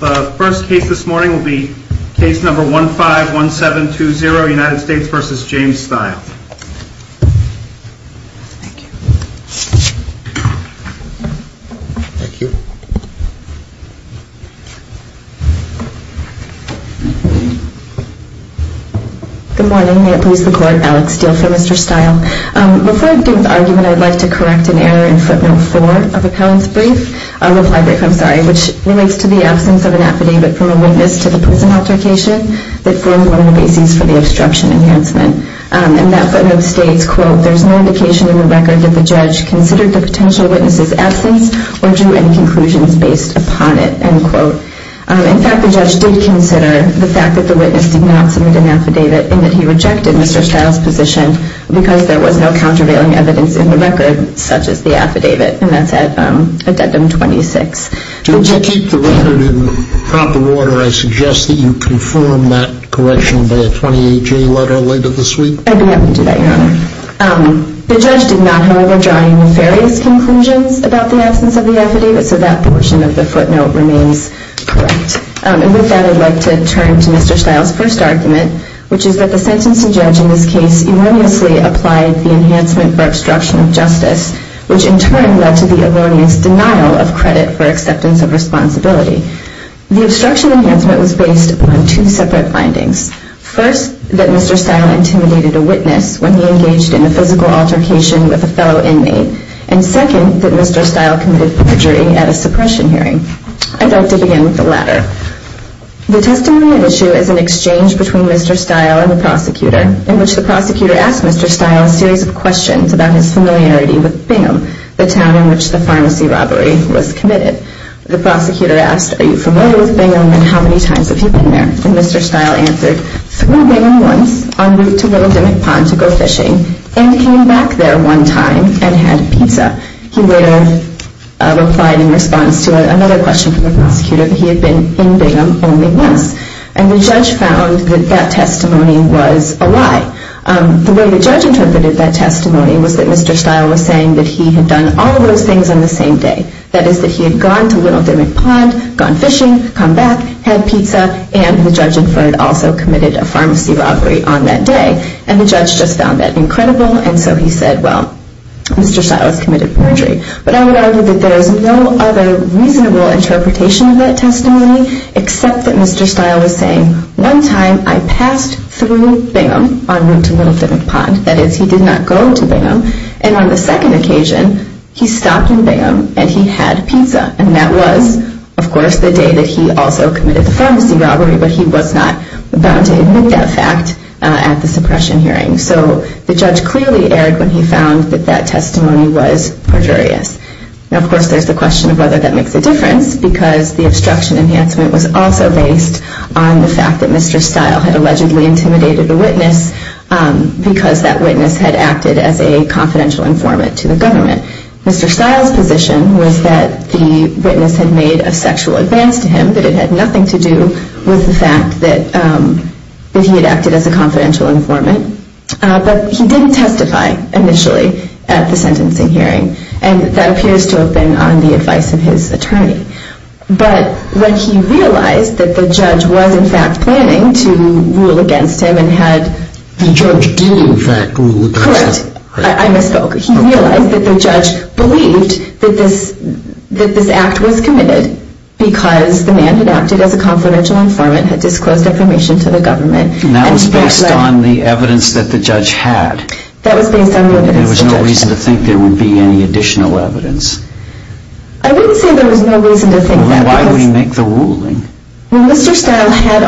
The first case this morning will be case number 151720, United States v. James Stile. Thank you. Thank you. Good morning, may it please the court, Alex Steele for Mr. Stile. Before I begin with the argument, I would like to correct an error in footnote 4 of the appellant's brief, reply brief, I'm sorry, which relates to the absence of an affidavit from a witness to the prison altercation that formed one of the bases for the obstruction enhancement. And that footnote states, quote, there's no indication in the record that the judge considered the potential witness's absence or drew any conclusions based upon it, end quote. In fact, the judge did consider the fact that the witness did not submit an affidavit and that he rejected Mr. Stile's position because there was no countervailing evidence in the record, such as the affidavit, and that's at addendum 26. If you keep the record in proper order, I suggest that you confirm that correction by a 28-J letter later this week. I'd be happy to do that, Your Honor. The judge did not, however, draw any nefarious conclusions about the absence of the affidavit, so that portion of the footnote remains correct. And with that, I'd like to turn to Mr. Stile's first argument, which is that the sentencing judge in this case erroneously applied the enhancement for obstruction of justice, which in turn led to the erroneous denial of credit for acceptance of responsibility. The obstruction enhancement was based on two separate findings. First, that Mr. Stile intimidated a witness when he engaged in a physical altercation with a fellow inmate. And second, that Mr. Stile committed perjury at a suppression hearing. I'd like to begin with the latter. The testimony at issue is an exchange between Mr. Stile and the prosecutor, in which the prosecutor asked Mr. Stile a series of questions about his familiarity with Bingham, the town in which the pharmacy robbery was committed. The prosecutor asked, Are you familiar with Bingham, and how many times have you been there? And Mr. Stile answered, Flew Bingham once, en route to Willow Demick Pond to go fishing, and came back there one time and had pizza. He later replied in response to another question from the prosecutor that he had been in Bingham only once. And the judge found that that testimony was a lie. The way the judge interpreted that testimony was that Mr. Stile was saying that he had done all of those things on the same day. That is, that he had gone to Willow Demick Pond, gone fishing, come back, had pizza, and the judge inferred also committed a pharmacy robbery on that day. And the judge just found that incredible, and so he said, Well, Mr. Stile has committed perjury. But I would argue that there is no other reasonable interpretation of that testimony except that Mr. Stile was saying, One time I passed through Bingham on route to Willow Demick Pond. That is, he did not go to Bingham. And on the second occasion, he stopped in Bingham and he had pizza. And that was, of course, the day that he also committed the pharmacy robbery, but he was not bound to admit that fact at the suppression hearing. So the judge clearly erred when he found that that testimony was perjurious. Now, of course, there is the question of whether that makes a difference, because the obstruction enhancement was also based on the fact that Mr. Stile had allegedly intimidated a witness because that witness had acted as a confidential informant to the government. Mr. Stile's position was that the witness had made a sexual advance to him, that it had nothing to do with the fact that he had acted as a confidential informant. But he didn't testify initially at the sentencing hearing, and that appears to have been on the advice of his attorney. But when he realized that the judge was, in fact, planning to rule against him and had- The judge did, in fact, rule against him. Correct. I misspoke. He realized that the judge believed that this act was committed because the man had acted as a confidential informant, had disclosed information to the government. And that was based on the evidence that the judge had. That was based on the evidence of the judge. There was no reason to think there would be any additional evidence. I wouldn't say there was no reason to think that, because- Well, why would he make the ruling? Well, Mr. Stile had-